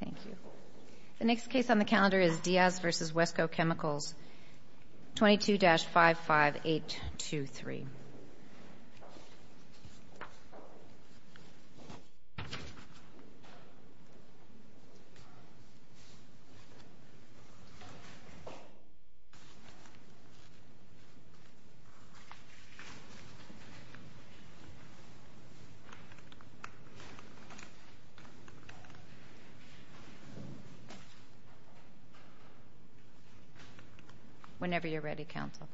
Thank you. The next case on the calendar is Diaz v. Westco Chemicals, 22-55823. Whenever you're ready, Counsel.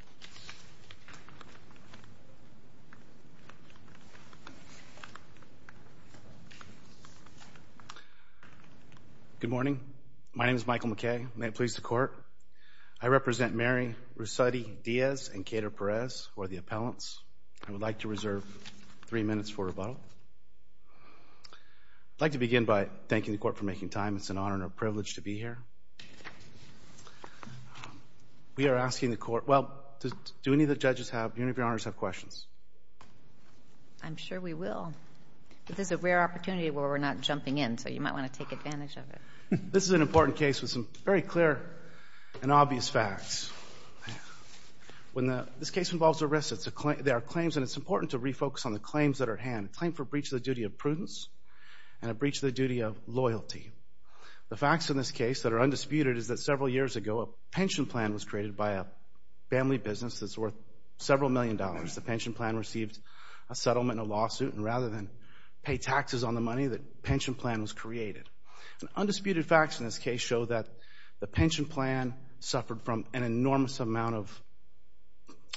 Good morning. My name is Michael McKay. May it please the Court, I represent Mary Rusetti Diaz and Cater Perez, who are the appellants. I would like to reserve three minutes for rebuttal. I'd like to begin by thanking the Court for making time. It's an honor and a privilege to be here. We are asking the Court, well, do any of the Judges have, any of your Honors have questions? I'm sure we will. But this is a rare opportunity where we're not jumping in, so you might want to take advantage of it. This is an important case with some very clear and obvious facts. When the, this case involves arrests, there are claims, and it's important to refocus on the claims that are at hand. A claim for breach of the duty of prudence and a breach of the duty of loyalty. The facts in this case that are undisputed is that several years ago, a pension plan was created by a family business that's worth several million dollars. The pension plan received a settlement and a lawsuit, and rather than pay taxes on the money, the pension plan was created. Undisputed facts in this case show that the pension plan suffered from an enormous amount of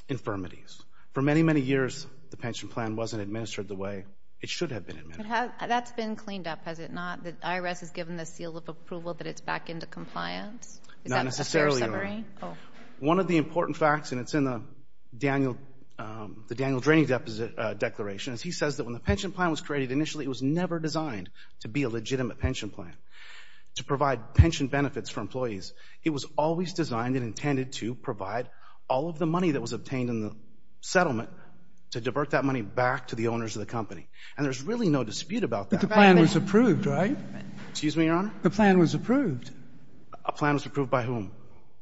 infirmities. For many, many years, the pension plan wasn't administered the way it should have been administered. That's been cleaned up, has it not? The IRS has given the seal of approval that it's back into compliance? Not necessarily. Is that a fair summary? One of the important facts, and it's in the Daniel, the Daniel Draney Declaration, is he says that when the pension plan was created initially, it was never designed to be a legitimate pension plan, to provide pension benefits for employees. It was always designed and intended to provide all of the money that was obtained in the settlement to divert that money back to the owners of the company, and there's really no dispute about that. But the plan was approved, right? Excuse me, Your Honor? The plan was approved. A plan was approved by whom?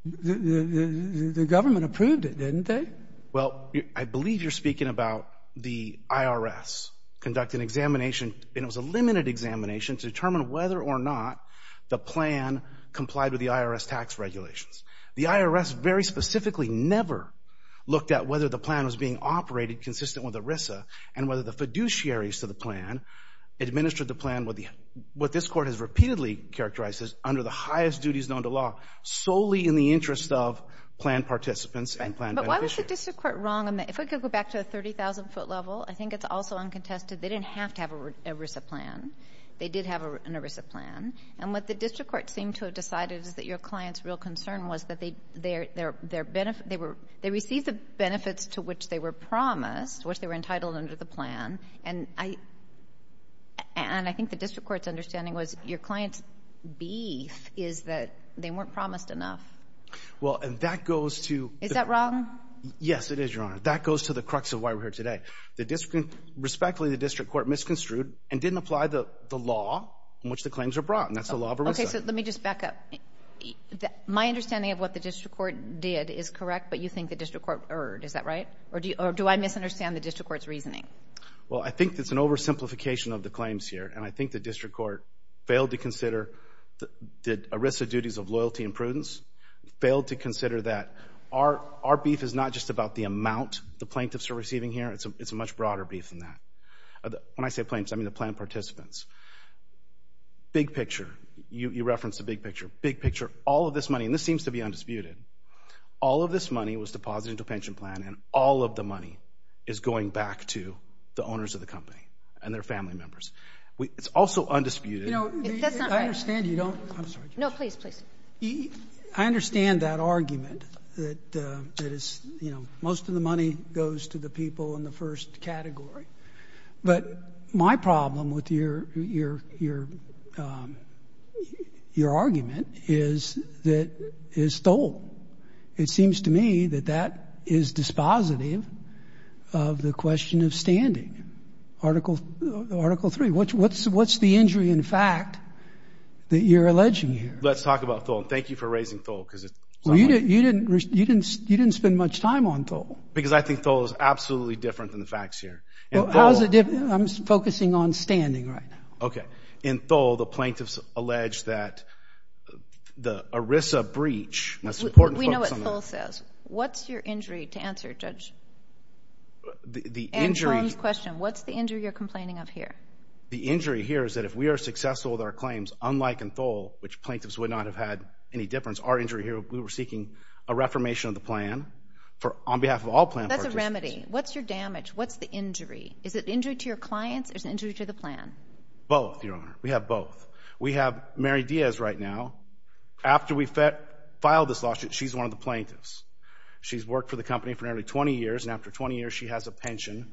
The government approved it, didn't they? Well, I believe you're speaking about the IRS conducting examination, and it was a limited examination to determine whether or not the plan complied with the IRS tax regulations. The IRS very specifically never looked at whether the plan was being operated consistent with ERISA, and whether the fiduciaries to the plan administered the plan with what this Court has repeatedly characterized as under the highest duties known to law, solely in the interest of plan participants and plan beneficiaries. But why was the district court wrong on that? If we could go back to the 30,000-foot level, I think it's also uncontested. They didn't have to have an ERISA plan. They did have an ERISA plan. And what the district court seemed to have decided is that your client's real concern was that they received the benefits to which they were promised, which they were entitled under the plan. And I think the district court's understanding was your client's beef is that they weren't promised enough. Well, and that goes to the— Is that wrong? Yes, it is, Your Honor. That goes to the crux of why we're here today. Respectfully, the district court misconstrued and didn't apply the law in which the claims were brought. And that's the law of ERISA. Okay. So let me just back up. My understanding of what the district court did is correct, but you think the district court erred. Is that right? Or do I misunderstand the district court's reasoning? Well, I think it's an oversimplification of the claims here. And I think the district court failed to consider the ERISA duties of loyalty and prudence, failed to consider that our beef is not just about the amount the plaintiffs are receiving here. It's a much broader beef than that. When I say plaintiffs, I mean the plaintiff participants. Big picture. You referenced the big picture. Big picture. All of this money—and this seems to be undisputed. All of this money was deposited into a pension plan, and all of the money is going back to the owners of the company and their family members. It's also undisputed— You know, I understand you don't—I'm sorry. No, please, please. I understand that argument that most of the money goes to the people in the first category. But my problem with your argument is that it's stolen. It seems to me that that is dispositive of the question of standing. Article III, what's the injury in fact that you're alleging here? Let's talk about Thole. Thank you for raising Thole. Well, you didn't spend much time on Thole. Because I think Thole is absolutely different than the facts here. How is it different? I'm focusing on standing right now. Okay. In Thole, the plaintiffs allege that the ERISA breach— We know what Thole says. What's your injury to answer, Judge? The injury— And Tom's question. What's the injury you're complaining of here? The injury here is that if we are successful with our claims, unlike in Thole, which plaintiffs would not have had any difference. Our injury here, we were seeking a reformation of the plan for—on behalf of all plaintiffs. That's a remedy. What's your damage? What's the injury? Is it injury to your clients or is it injury to the plan? Both, Your Honor. We have both. We have Mary Diaz right now. After we filed this lawsuit, she's one of the plaintiffs. She's worked for the company for nearly 20 years, and after 20 years, she has a pension.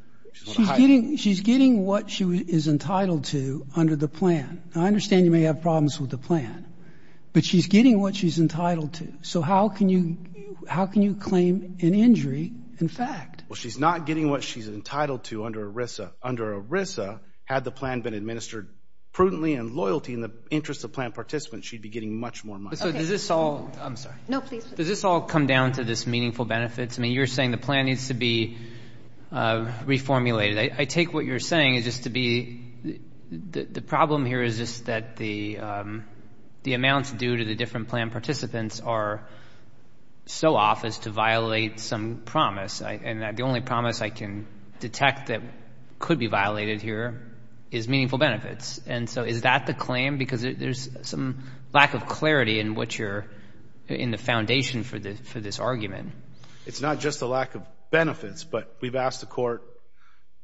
She's getting what she is entitled to under the plan. I understand you may have problems with the plan, but she's getting what she's entitled to. So how can you claim an injury in fact? Well, she's not getting what she's entitled to under ERISA. Under ERISA, had the plan been administered prudently and loyally in the interest of plan participants, she'd be getting much more money. So does this all— I'm sorry. No, please. Does this all come down to this meaningful benefits? I mean, you're saying the plan needs to be reformulated. I take what you're saying is just to be—the problem here is just that the amounts due to the different plan participants are so off as to violate some promise, and the only promise I can detect that could be violated here is meaningful benefits. And so is that the claim? Because there's some lack of clarity in what you're—in the foundation for this argument. It's not just a lack of benefits, but we've asked the court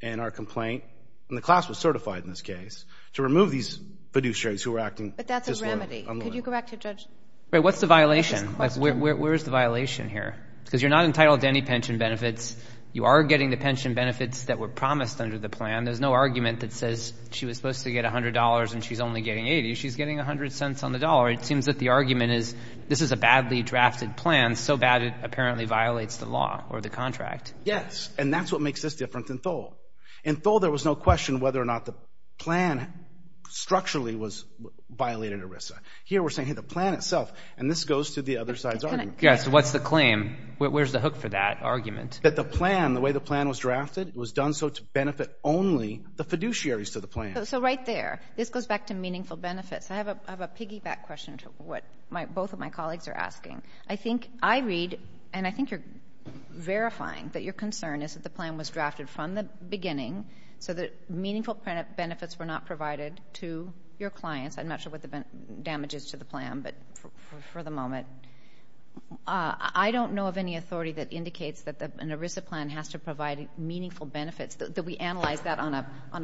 in our complaint, and the class was certified in this case, to remove these fiduciaries who were acting— But that's a remedy. Could you go back to Judge— Right. What's the violation? Where is the violation here? Because you're not entitled to any pension benefits. You are getting the pension benefits that were promised under the plan. There's no argument that says she was supposed to get $100 and she's only getting $80. She's getting 100 cents on the dollar. It seems that the argument is this is a badly drafted plan, so bad it apparently violates the law or the contract. Yes. And that's what makes this different than Thole. In Thole, there was no question whether or not the plan structurally was—violated ERISA. Here we're saying, hey, the plan itself—and this goes to the other side's argument. Yeah, so what's the claim? Where's the hook for that argument? That the plan—the way the plan was drafted, it was done so to benefit only the fiduciaries to the plan. So right there. This goes back to meaningful benefits. I have a piggyback question to what both of my colleagues are asking. I think I read—and I think you're verifying that your concern is that the plan was drafted from the beginning so that meaningful benefits were not provided to your clients. I'm not sure what the damage is to the plan, but for the moment. I don't know of any authority that indicates that an ERISA plan has to provide meaningful benefits, that we analyze that on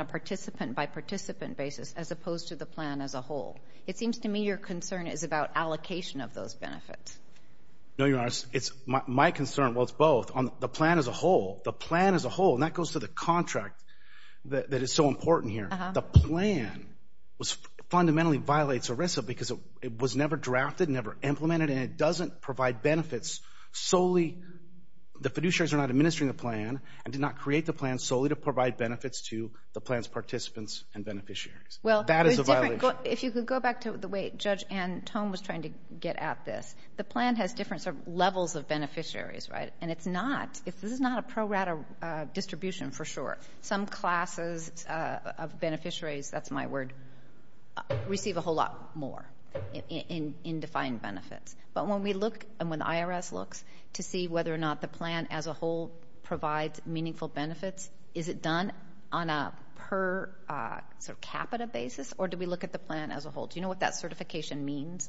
a participant-by-participant basis as opposed to the plan as a whole. It seems to me your concern is about allocation of those benefits. No, Your Honor, it's—my concern—well, it's both. The plan as a whole—the plan as a whole—and that goes to the contract that is so important here. The plan was—fundamentally violates ERISA because it was never drafted, never implemented, and it doesn't provide benefits solely—the fiduciaries are not administering the plan and did not create the plan solely to provide benefits to the plan's participants and beneficiaries. That is a violation. If you could go back to the way Judge Anne Tome was trying to get at this, the plan has different levels of beneficiaries, right? And it's not—this is not a pro-rata distribution for sure. Some classes of beneficiaries—that's my word—receive a whole lot more in defined benefits. But when we look—and when the IRS looks—to see whether or not the plan as a whole provides meaningful benefits, is it done on a per capita basis, or do we look at the plan as a whole? Do you know what that certification means?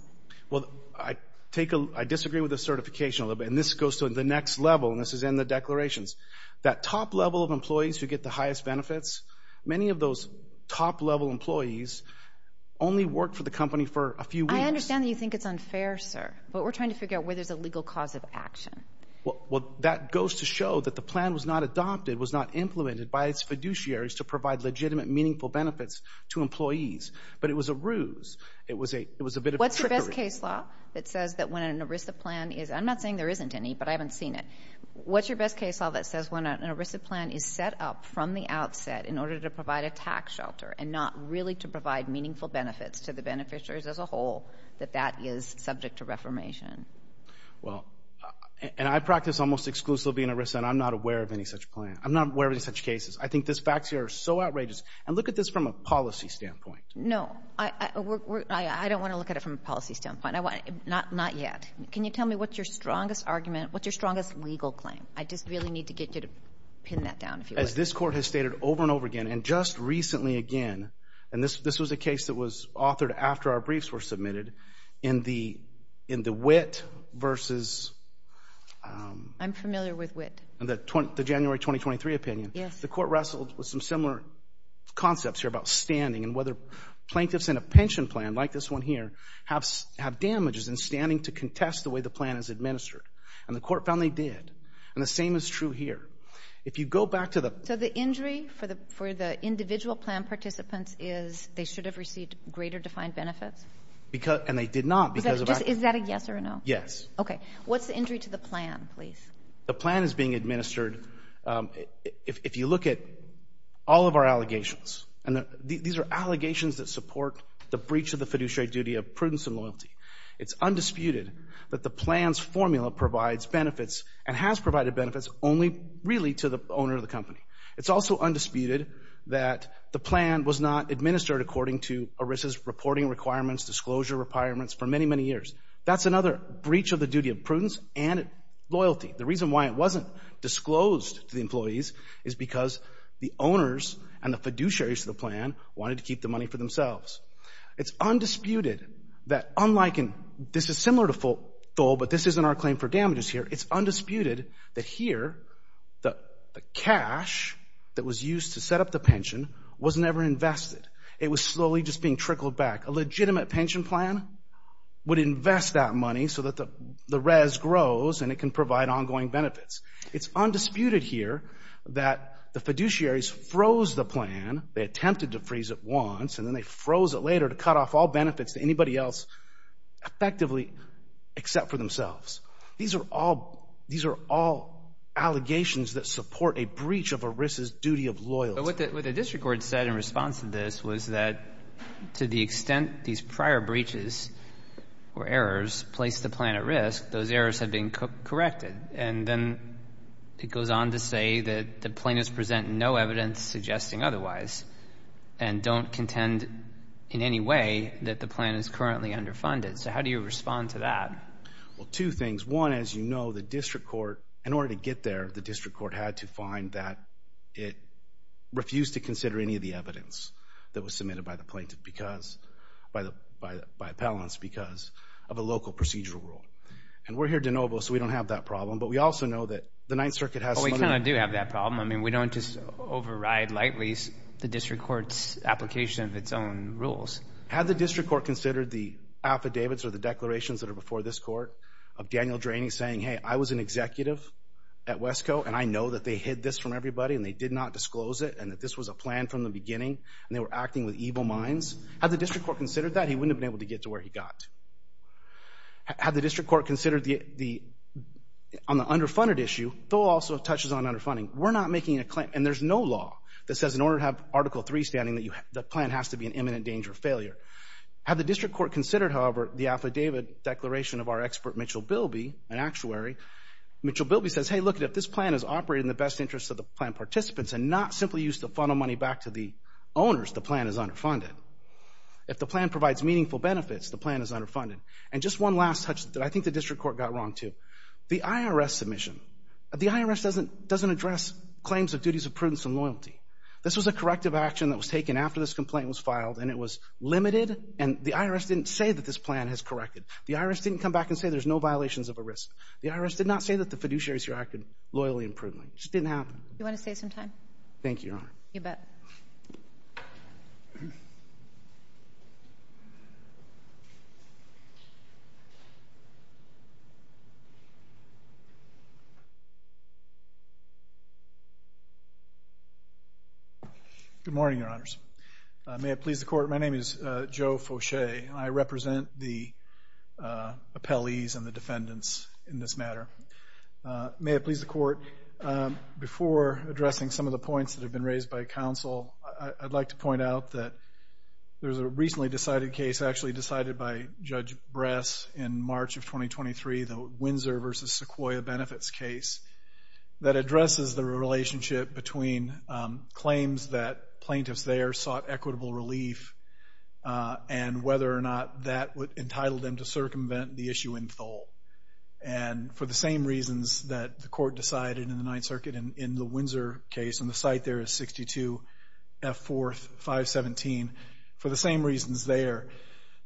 Well, I take a—I disagree with the certification a little bit, and this goes to the next level, and this is in the declarations. That top level of employees who get the highest benefits—many of those top level employees only work for the company for a few weeks. I understand that you think it's unfair, sir, but we're trying to figure out where there's a legal cause of action. Well, that goes to show that the plan was not adopted, was not implemented by its fiduciaries to provide legitimate, meaningful benefits to employees, but it was a ruse. It was a bit of a trickery. What's your best case law that says that when an ERISA plan is—I'm not saying there isn't any, but I haven't seen it—what's your best case law that says when an ERISA plan is set up from the outset in order to provide a tax shelter and not really to provide meaningful benefits to the beneficiaries as a whole, that that is subject to reformation? Well, and I practice almost exclusively in ERISA, and I'm not aware of any such plan. I'm not aware of any such cases. I think these facts here are so outrageous, and look at this from a policy standpoint. No, I don't want to look at it from a policy standpoint. Not yet. Can you tell me what's your strongest argument, what's your strongest legal claim? I just really need to get you to pin that down, if you would. As this Court has stated over and over again, and just recently again, and this was a case that was authored after our briefs were submitted, in the Witt versus— I'm familiar with Witt. The January 2023 opinion. Yes. The Court wrestled with some similar concepts here about standing and whether plaintiffs in a pension plan, like this one here, have damages in standing to contest the way the plan is administered, and the Court found they did, and the same is true here. If you go back to the— So the injury for the individual plan participants is they should have received greater defined benefits? And they did not, because of— Is that a yes or a no? Yes. Okay. What's the injury to the plan, please? The plan is being administered—if you look at all of our allegations, and these are allegations that support the breach of the fiduciary duty of prudence and loyalty. It's undisputed that the plan's formula provides benefits and has provided benefits only really to the owner of the company. It's also undisputed that the plan was not administered according to ERISA's reporting requirements, disclosure requirements, for many, many years. That's another breach of the duty of prudence and loyalty. The reason why it wasn't disclosed to the employees is because the owners and the fiduciaries of the plan wanted to keep the money for themselves. It's undisputed that, unlike in—this is similar to FOLE, but this isn't our claim for damages here. It's undisputed that here, the cash that was used to set up the pension was never invested. It was slowly just being trickled back. A legitimate pension plan would invest that money so that the res grows and it can provide ongoing benefits. It's undisputed here that the fiduciaries froze the plan—they attempted to freeze it once, and then they froze it later to cut off all benefits to anybody else, effectively, except for themselves. These are all—these are all allegations that support a breach of ERISA's duty of loyalty. But what the district court said in response to this was that to the extent these prior breaches or errors placed the plan at risk, those errors had been corrected. And then it goes on to say that the plaintiffs present no evidence suggesting otherwise and don't contend in any way that the plan is currently underfunded. So how do you respond to that? Well, two things. One, as you know, the district court, in order to get there, the district court had to find that it refused to consider any of the evidence that was submitted by the plaintiff because—by the—by appellants because of a local procedural rule. And we're here de novo, so we don't have that problem. But we also know that the Ninth Circuit has some other— Well, we kind of do have that problem. I mean, we don't just override lightly the district court's application of its own rules. Had the district court considered the affidavits or the declarations that are before this court of Daniel Draney saying, hey, I was an executive at Wesco and I know that they hid this from everybody and they did not disclose it and that this was a plan from the beginning and they were acting with evil minds? Had the district court considered that, he wouldn't have been able to get to where he got. Had the district court considered the—on the underfunded issue, though also touches on underfunding, we're not making a claim—and there's no law that says in order to have a permanent danger of failure. Had the district court considered, however, the affidavit declaration of our expert Mitchell Bilby, an actuary, Mitchell Bilby says, hey, look, if this plan is operated in the best interest of the plan participants and not simply used to funnel money back to the owners, the plan is underfunded. If the plan provides meaningful benefits, the plan is underfunded. And just one last touch that I think the district court got wrong, too. The IRS submission. The IRS doesn't address claims of duties of prudence and loyalty. This was a corrective action that was taken after this complaint was filed and it was limited and the IRS didn't say that this plan has corrected. The IRS didn't come back and say there's no violations of a risk. The IRS did not say that the fiduciaries here acted loyally and prudently. It just didn't happen. Do you want to say something? Thank you, Your Honor. You bet. Good morning, Your Honors. May it please the Court, my name is Joe Fauché and I represent the appellees and the defendants in this matter. May it please the Court, before addressing some of the points that have been raised by counsel, I'd like to point out that there's a recently decided case, actually decided by Judge Bress in March of 2023, the Windsor v. Sequoia benefits case, that addresses the claims that plaintiffs there sought equitable relief and whether or not that would entitle them to circumvent the issue in Thole. And for the same reasons that the Court decided in the Ninth Circuit in the Windsor case, and the site there is 62 F. 4th 517, for the same reasons there,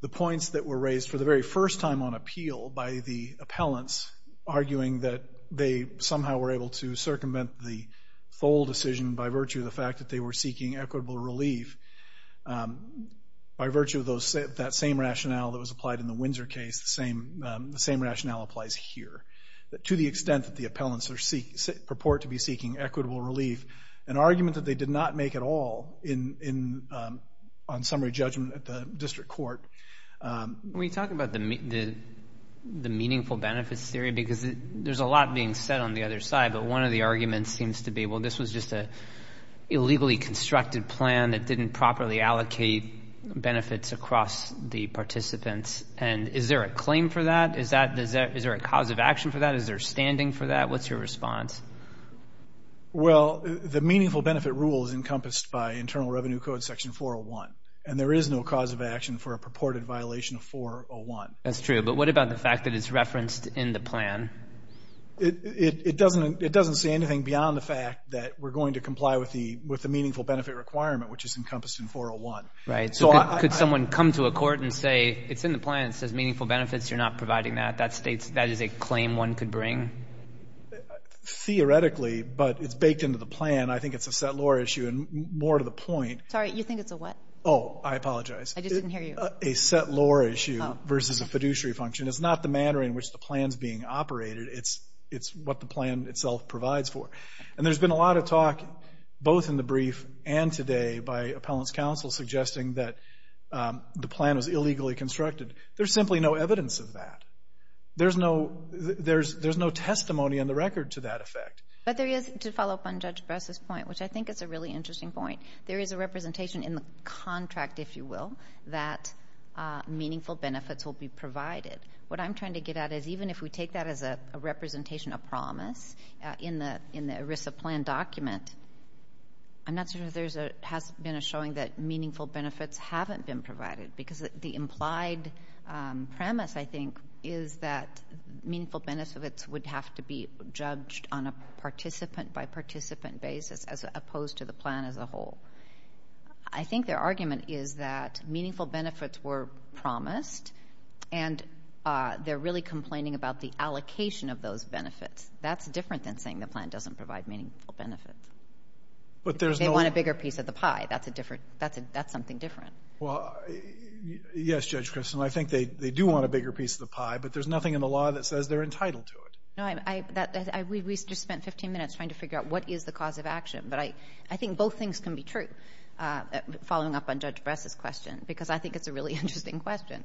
the points that were raised for the very first time on appeal by the appellants arguing that they somehow were able to circumvent the Thole decision by virtue of the fact that they were seeking equitable relief, by virtue of that same rationale that was applied in the Windsor case, the same rationale applies here. To the extent that the appellants purport to be seeking equitable relief, an argument that they did not make at all on summary judgment at the District Court. We talk about the meaningful benefits theory because there's a lot being said on the other side. The argument seems to be, well, this was just a illegally constructed plan that didn't properly allocate benefits across the participants. And is there a claim for that? Is there a cause of action for that? Is there standing for that? What's your response? Well, the meaningful benefit rule is encompassed by Internal Revenue Code Section 401. And there is no cause of action for a purported violation of 401. That's true. But what about the fact that it's referenced in the plan? It doesn't say anything beyond the fact that we're going to comply with the meaningful benefit requirement, which is encompassed in 401. Right. So could someone come to a court and say, it's in the plan, it says meaningful benefits, you're not providing that. That states that is a claim one could bring? Theoretically, but it's baked into the plan. I think it's a set law issue. And more to the point. Sorry, you think it's a what? Oh, I apologize. I just didn't hear you. A set law issue versus a fiduciary function. It's not the manner in which the plan's being operated. It's what the plan itself provides for. And there's been a lot of talk, both in the brief and today, by appellants counsel suggesting that the plan was illegally constructed. There's simply no evidence of that. There's no testimony on the record to that effect. But there is, to follow up on Judge Bress's point, which I think is a really interesting point, there is a representation in the contract, if you will, that meaningful benefits will be provided. What I'm trying to get at is even if we take that as a representation of promise, in the ERISA plan document, I'm not sure there has been a showing that meaningful benefits haven't been provided. Because the implied premise, I think, is that meaningful benefits would have to be judged on a participant-by-participant basis, as opposed to the plan as a whole. I think their argument is that meaningful benefits were promised, and they're really complaining about the allocation of those benefits. That's different than saying the plan doesn't provide meaningful benefits. But there's no— They want a bigger piece of the pie. That's a different—that's something different. Well, yes, Judge Christin. I think they do want a bigger piece of the pie, but there's nothing in the law that says they're entitled to it. No, I—we just spent 15 minutes trying to figure out what is the cause of action. But I think both things can be true, following up on Judge Bress's question, because I think it's a really interesting question.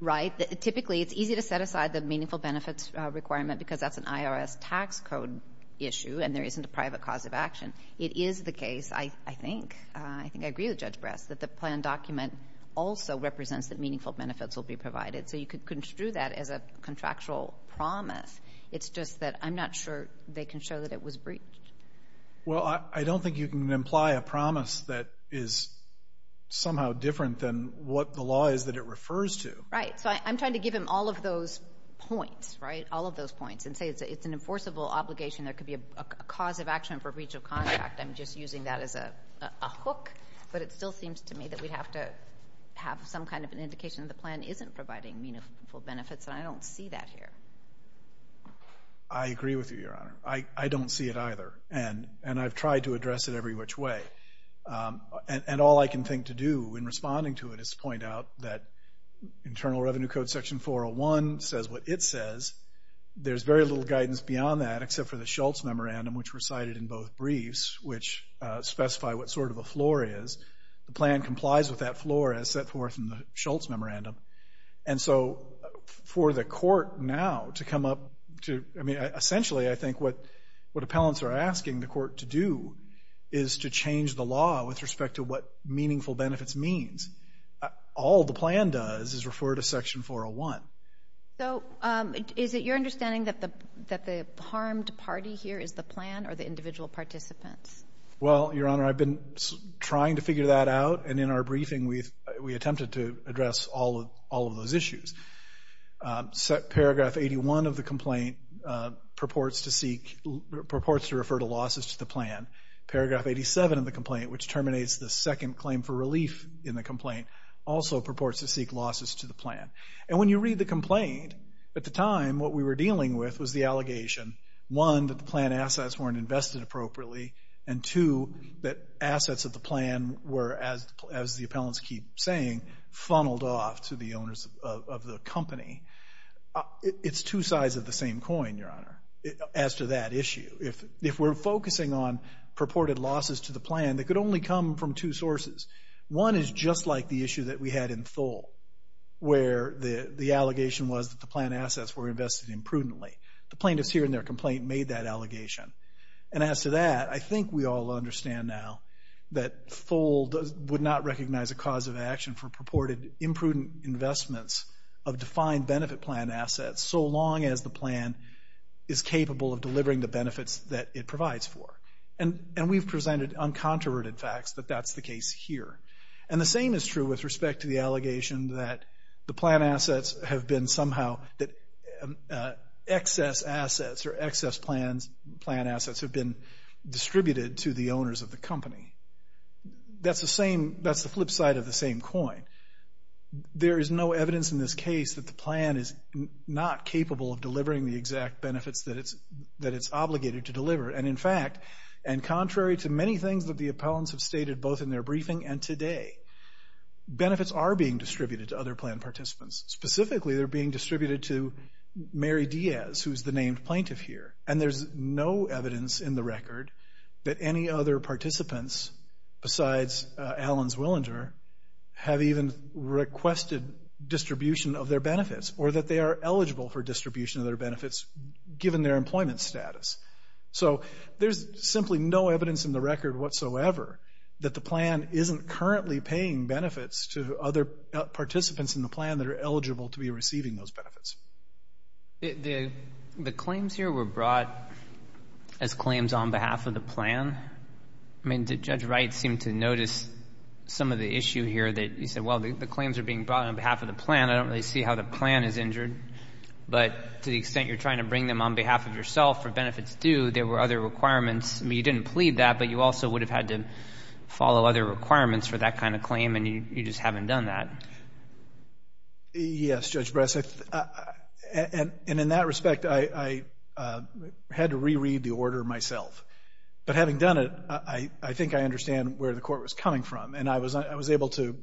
Right? Typically, it's easy to set aside the meaningful benefits requirement because that's an IRS tax code issue, and there isn't a private cause of action. It is the case, I think—I think I agree with Judge Bress—that the plan document also represents that meaningful benefits will be provided. So you could construe that as a contractual promise. It's just that I'm not sure they can show that it was breached. Well, I don't think you can imply a promise that is somehow different than what the law is that it refers to. Right. So I'm trying to give him all of those points, right? All of those points, and say it's an enforceable obligation, there could be a cause of action for breach of contract. I'm just using that as a hook, but it still seems to me that we'd have to have some kind of an indication that the plan isn't providing meaningful benefits, and I don't see that here. I agree with you, Your Honor. I don't see it either, and I've tried to address it every which way. And all I can think to do in responding to it is to point out that Internal Revenue Code Section 401 says what it says. There's very little guidance beyond that except for the Shultz Memorandum, which recited in both briefs, which specify what sort of a floor is. The plan complies with that floor as set forth in the Shultz Memorandum. And so for the court now to come up to, I mean, essentially I think what appellants are asking the court to do is to change the law with respect to what meaningful benefits means. All the plan does is refer to Section 401. So is it your understanding that the harmed party here is the plan, or the individual participants? Well, Your Honor, I've been trying to figure that out, and in our briefing we attempted to address all of those issues. Paragraph 81 of the complaint purports to refer to losses to the plan. Paragraph 87 of the complaint, which terminates the second claim for relief in the complaint, also purports to seek losses to the plan. And when you read the complaint, at the time what we were dealing with was the allegation, one, that the plan assets weren't invested appropriately, and two, that assets of the funneled off to the owners of the company. It's two sides of the same coin, Your Honor, as to that issue. If we're focusing on purported losses to the plan, they could only come from two sources. One is just like the issue that we had in Thole, where the allegation was that the plan assets were invested imprudently. The plaintiffs here in their complaint made that allegation. And as to that, I think we all understand now that Thole would not recognize a cause of action for purported imprudent investments of defined benefit plan assets, so long as the plan is capable of delivering the benefits that it provides for. And we've presented uncontroverted facts that that's the case here. And the same is true with respect to the allegation that the plan assets have been somehow, that excess assets or excess plan assets have been distributed to the owners of the company. That's the same, that's the flip side of the same coin. There is no evidence in this case that the plan is not capable of delivering the exact benefits that it's obligated to deliver. And in fact, and contrary to many things that the appellants have stated both in their briefing and today, benefits are being distributed to other plan participants. Specifically, they're being distributed to Mary Diaz, who's the named plaintiff here. And there's no evidence in the record that any other participants besides Allens Willinger have even requested distribution of their benefits or that they are eligible for distribution of their benefits given their employment status. So there's simply no evidence in the record whatsoever that the plan isn't currently paying benefits to other participants in the plan that are eligible to be receiving those benefits. The claims here were brought as claims on behalf of the plan. I mean, did Judge Wright seem to notice some of the issue here that you said, well, the claims are being brought on behalf of the plan, I don't really see how the plan is injured. But to the extent you're trying to bring them on behalf of yourself for benefits due, there were other requirements. I mean, you didn't plead that, but you also would have had to follow other requirements for that kind of claim and you just haven't done that. Yes, Judge Breseth, and in that respect, I had to reread the order myself. But having done it, I think I understand where the court was coming from. And I was able to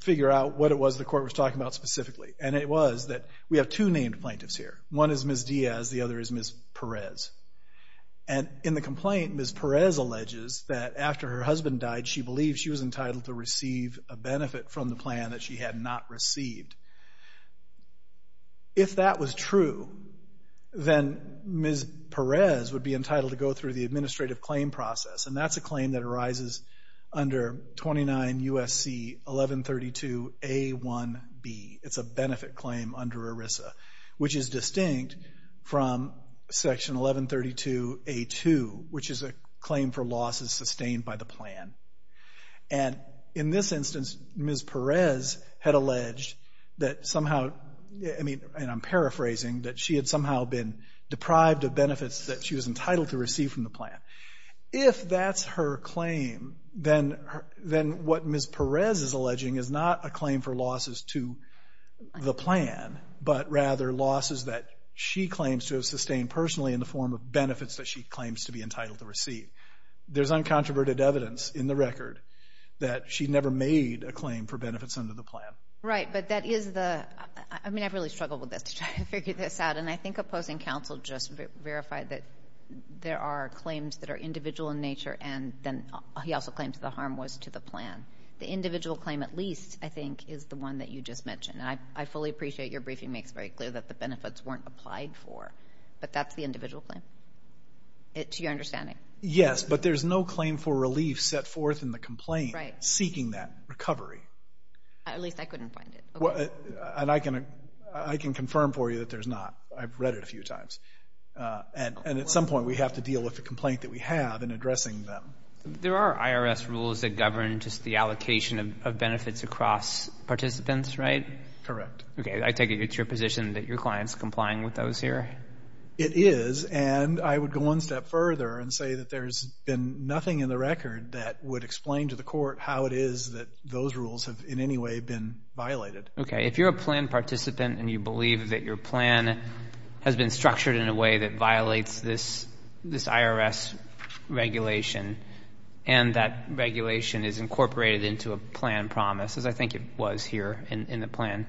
figure out what it was the court was talking about specifically. And it was that we have two named plaintiffs here. One is Ms. Diaz, the other is Ms. Perez. And in the complaint, Ms. Perez alleges that after her husband died, she believed she was entitled to receive a benefit from the plan that she had not received. If that was true, then Ms. Perez would be entitled to go through the administrative claim process. And that's a claim that arises under 29 U.S.C. 1132A1B. It's a benefit claim under ERISA, which is distinct from Section 1132A2, which is a claim for losses sustained by the plan. And in this instance, Ms. Perez had alleged that somehow, I mean, and I'm paraphrasing, that she had somehow been deprived of benefits that she was entitled to receive from the plan. If that's her claim, then what Ms. Perez is alleging is not a claim for losses to the plan, but rather losses that she claims to have sustained personally in the form of benefits that she claims to be entitled to receive. There's uncontroverted evidence in the record that she never made a claim for benefits under the plan. Right. But that is the, I mean, I've really struggled with this to try to figure this out. And I think opposing counsel just verified that there are claims that are individual in nature, and then he also claims the harm was to the plan. The individual claim, at least, I think, is the one that you just mentioned. I fully appreciate your briefing makes very clear that the benefits weren't applied for. But that's the individual claim, to your understanding. Yes, but there's no claim for relief set forth in the complaint seeking that recovery. At least, I couldn't find it. And I can confirm for you that there's not. I've read it a few times. And at some point, we have to deal with the complaint that we have in addressing them. There are IRS rules that govern just the allocation of benefits across participants, right? Correct. Okay. I take it it's your position that your client's complying with those here? It is. And I would go one step further and say that there's been nothing in the record that would explain to the court how it is that those rules have in any way been violated. Okay. If you're a plan participant and you believe that your plan has been structured in a way that violates this IRS regulation, and that regulation is incorporated into a plan promise, as I think it was here in the plan,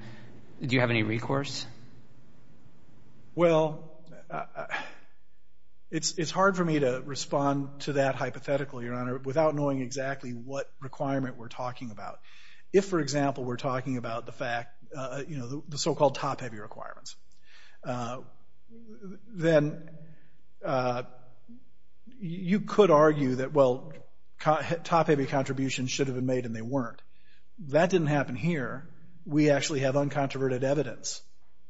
do you have any recourse? Well, it's hard for me to respond to that hypothetically, Your Honor, without knowing exactly what requirement we're talking about. If, for example, we're talking about the fact, you know, the so-called top-heavy requirements, then you could argue that, well, top-heavy contributions should have been made and they weren't. Well, that didn't happen here. We actually have uncontroverted evidence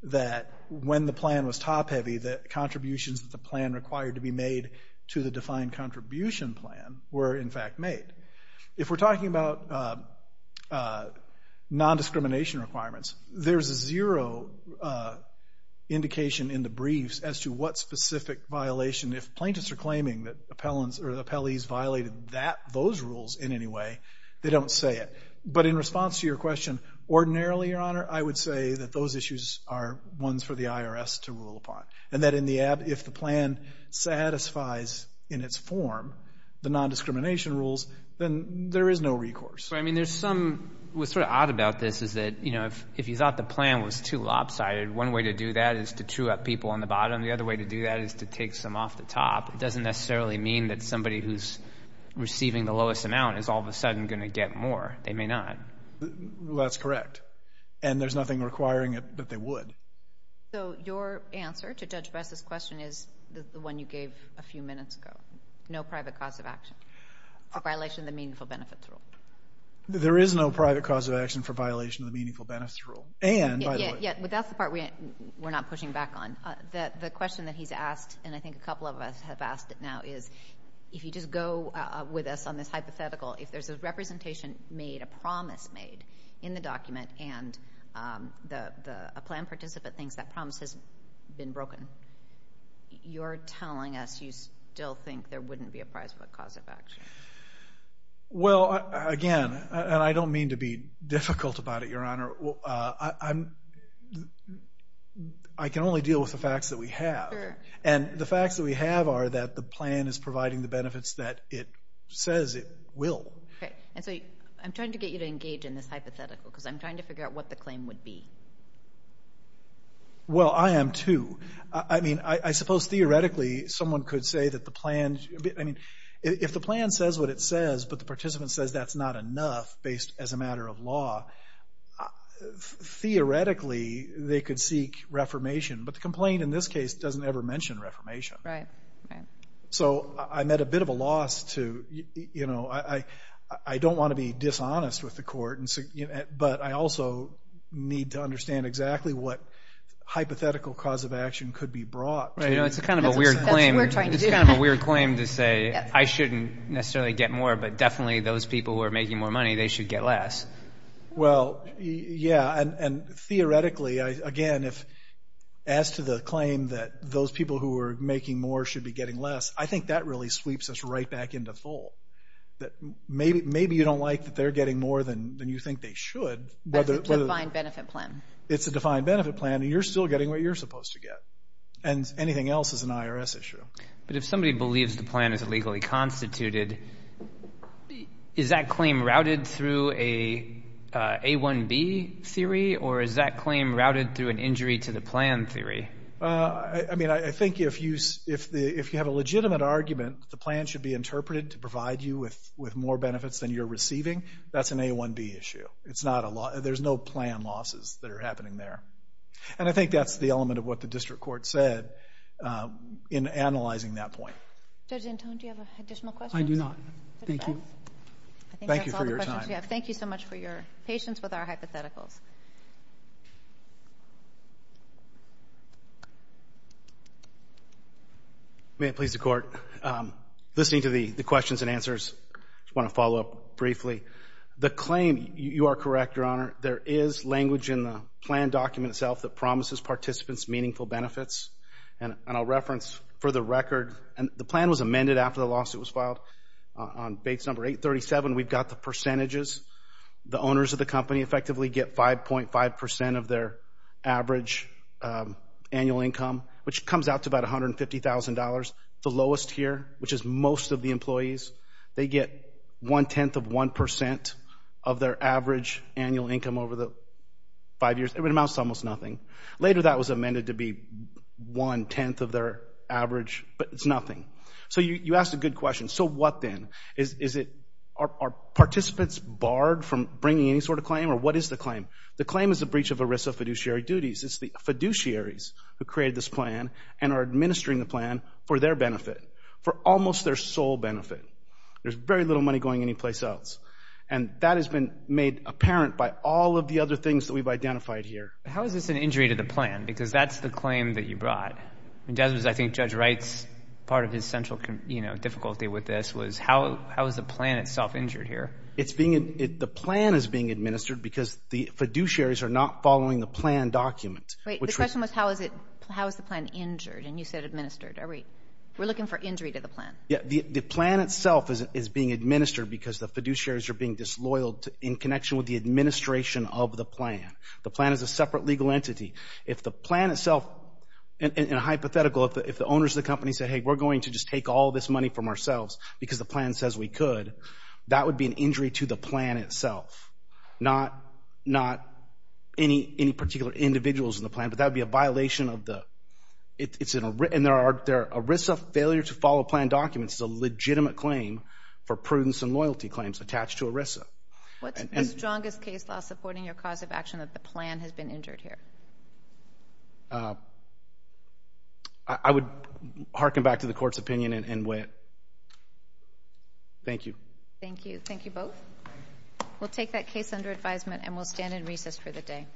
that when the plan was top-heavy, the contributions that the plan required to be made to the defined contribution plan were, in fact, made. If we're talking about non-discrimination requirements, there's zero indication in the briefs as to what specific violation. If plaintiffs are claiming that appellees violated those rules in any way, they don't say it. But in response to your question, ordinarily, Your Honor, I would say that those issues are ones for the IRS to rule upon, and that if the plan satisfies, in its form, the non-discrimination rules, then there is no recourse. But, I mean, there's some—what's sort of odd about this is that, you know, if you thought the plan was too lopsided, one way to do that is to chew up people on the bottom. The other way to do that is to take some off the top. It doesn't necessarily mean that somebody who's receiving the lowest amount is all of a sudden going to get more. They may not. That's correct. And there's nothing requiring it that they would. So, your answer to Judge Bess's question is the one you gave a few minutes ago. No private cause of action for violation of the Meaningful Benefits Rule. There is no private cause of action for violation of the Meaningful Benefits Rule. And, by the way— Yeah, but that's the part we're not pushing back on. The question that he's asked, and I think a couple of us have asked it now, is if you just go with us on this hypothetical, if there's a representation made, a promise made in the document, and a plan participant thinks that promise has been broken, you're telling us you still think there wouldn't be a private cause of action. Well, again, and I don't mean to be difficult about it, Your Honor, I can only deal with the facts that we have. Sure. And the facts that we have are that the plan is providing the benefits that it says it will. Okay. And so, I'm trying to get you to engage in this hypothetical, because I'm trying to figure out what the claim would be. Well, I am, too. I mean, I suppose theoretically, someone could say that the plan—I mean, if the plan says what it says, but the participant says that's not enough, based as a matter of law, theoretically, they could seek reformation. But the complaint in this case doesn't ever mention reformation. Right. So, I'm at a bit of a loss to, you know, I don't want to be dishonest with the court, but I also need to understand exactly what hypothetical cause of action could be brought to— Right. You know, it's kind of a weird claim. That's what we're trying to do. It's kind of a weird claim to say, I shouldn't necessarily get more, but definitely those people who are making more money, they should get less. Well, yeah, and theoretically, again, as to the claim that those people who are making more should be getting less, I think that really sweeps us right back into fold. Maybe you don't like that they're getting more than you think they should. But it's a defined benefit plan. It's a defined benefit plan, and you're still getting what you're supposed to get. And anything else is an IRS issue. But if somebody believes the plan is legally constituted, is that claim routed through a A1B theory, or is that claim routed through an injury to the plan theory? I mean, I think if you have a legitimate argument that the plan should be interpreted to provide you with more benefits than you're receiving, that's an A1B issue. It's not a—there's no plan losses that are happening there. And I think that's the element of what the district court said in analyzing that point. Judge Antone, do you have additional questions? I do not. Thank you. I think that's all the questions we have. Thank you so much for your patience with our hypotheticals. May it please the Court, listening to the questions and answers, I just want to follow up briefly. The claim, you are correct, Your Honor, there is language in the plan document itself that promises participants meaningful benefits. And I'll reference for the record—and the plan was amended after the lawsuit was filed. On base number 837, we've got the percentages. The owners of the company effectively get 5.5 percent of their average annual income, which comes out to about $150,000. The lowest here, which is most of the employees, they get one-tenth of one percent of their average annual income over the five years. It amounts to almost nothing. Later that was amended to be one-tenth of their average, but it's nothing. So you asked a good question. So what then? Is it—are participants barred from bringing any sort of claim, or what is the claim? The claim is the breach of ERISA fiduciary duties. It's the fiduciaries who created this plan and are administering the plan for their benefit, for almost their sole benefit. There's very little money going anyplace else. And that has been made apparent by all of the other things that we've identified here. How is this an injury to the plan? Because that's the claim that you brought. I think Judge Wright's—part of his central difficulty with this was how is the plan itself injured here? It's being—the plan is being administered because the fiduciaries are not following the plan document. Wait. The question was how is it—how is the plan injured, and you said administered. Are we—we're looking for injury to the plan. Yeah. The plan itself is being administered because the fiduciaries are being disloyal in connection with the administration of the plan. The plan is a separate legal entity. If the plan itself—in a hypothetical, if the owners of the company said, hey, we're going to just take all this money from ourselves because the plan says we could, that would be an injury to the plan itself, not any particular individuals in the plan, but that would be a violation of the—it's an—and there are—ERISA failure to follow plan documents is a legitimate claim for prudence and loyalty claims attached to ERISA. What's the strongest case law supporting your cause of action that the plan has been injured here? I would hearken back to the court's opinion and wit. Thank you. Thank you. Thank you both. We'll take that case under advisement and we'll stand in recess for the day.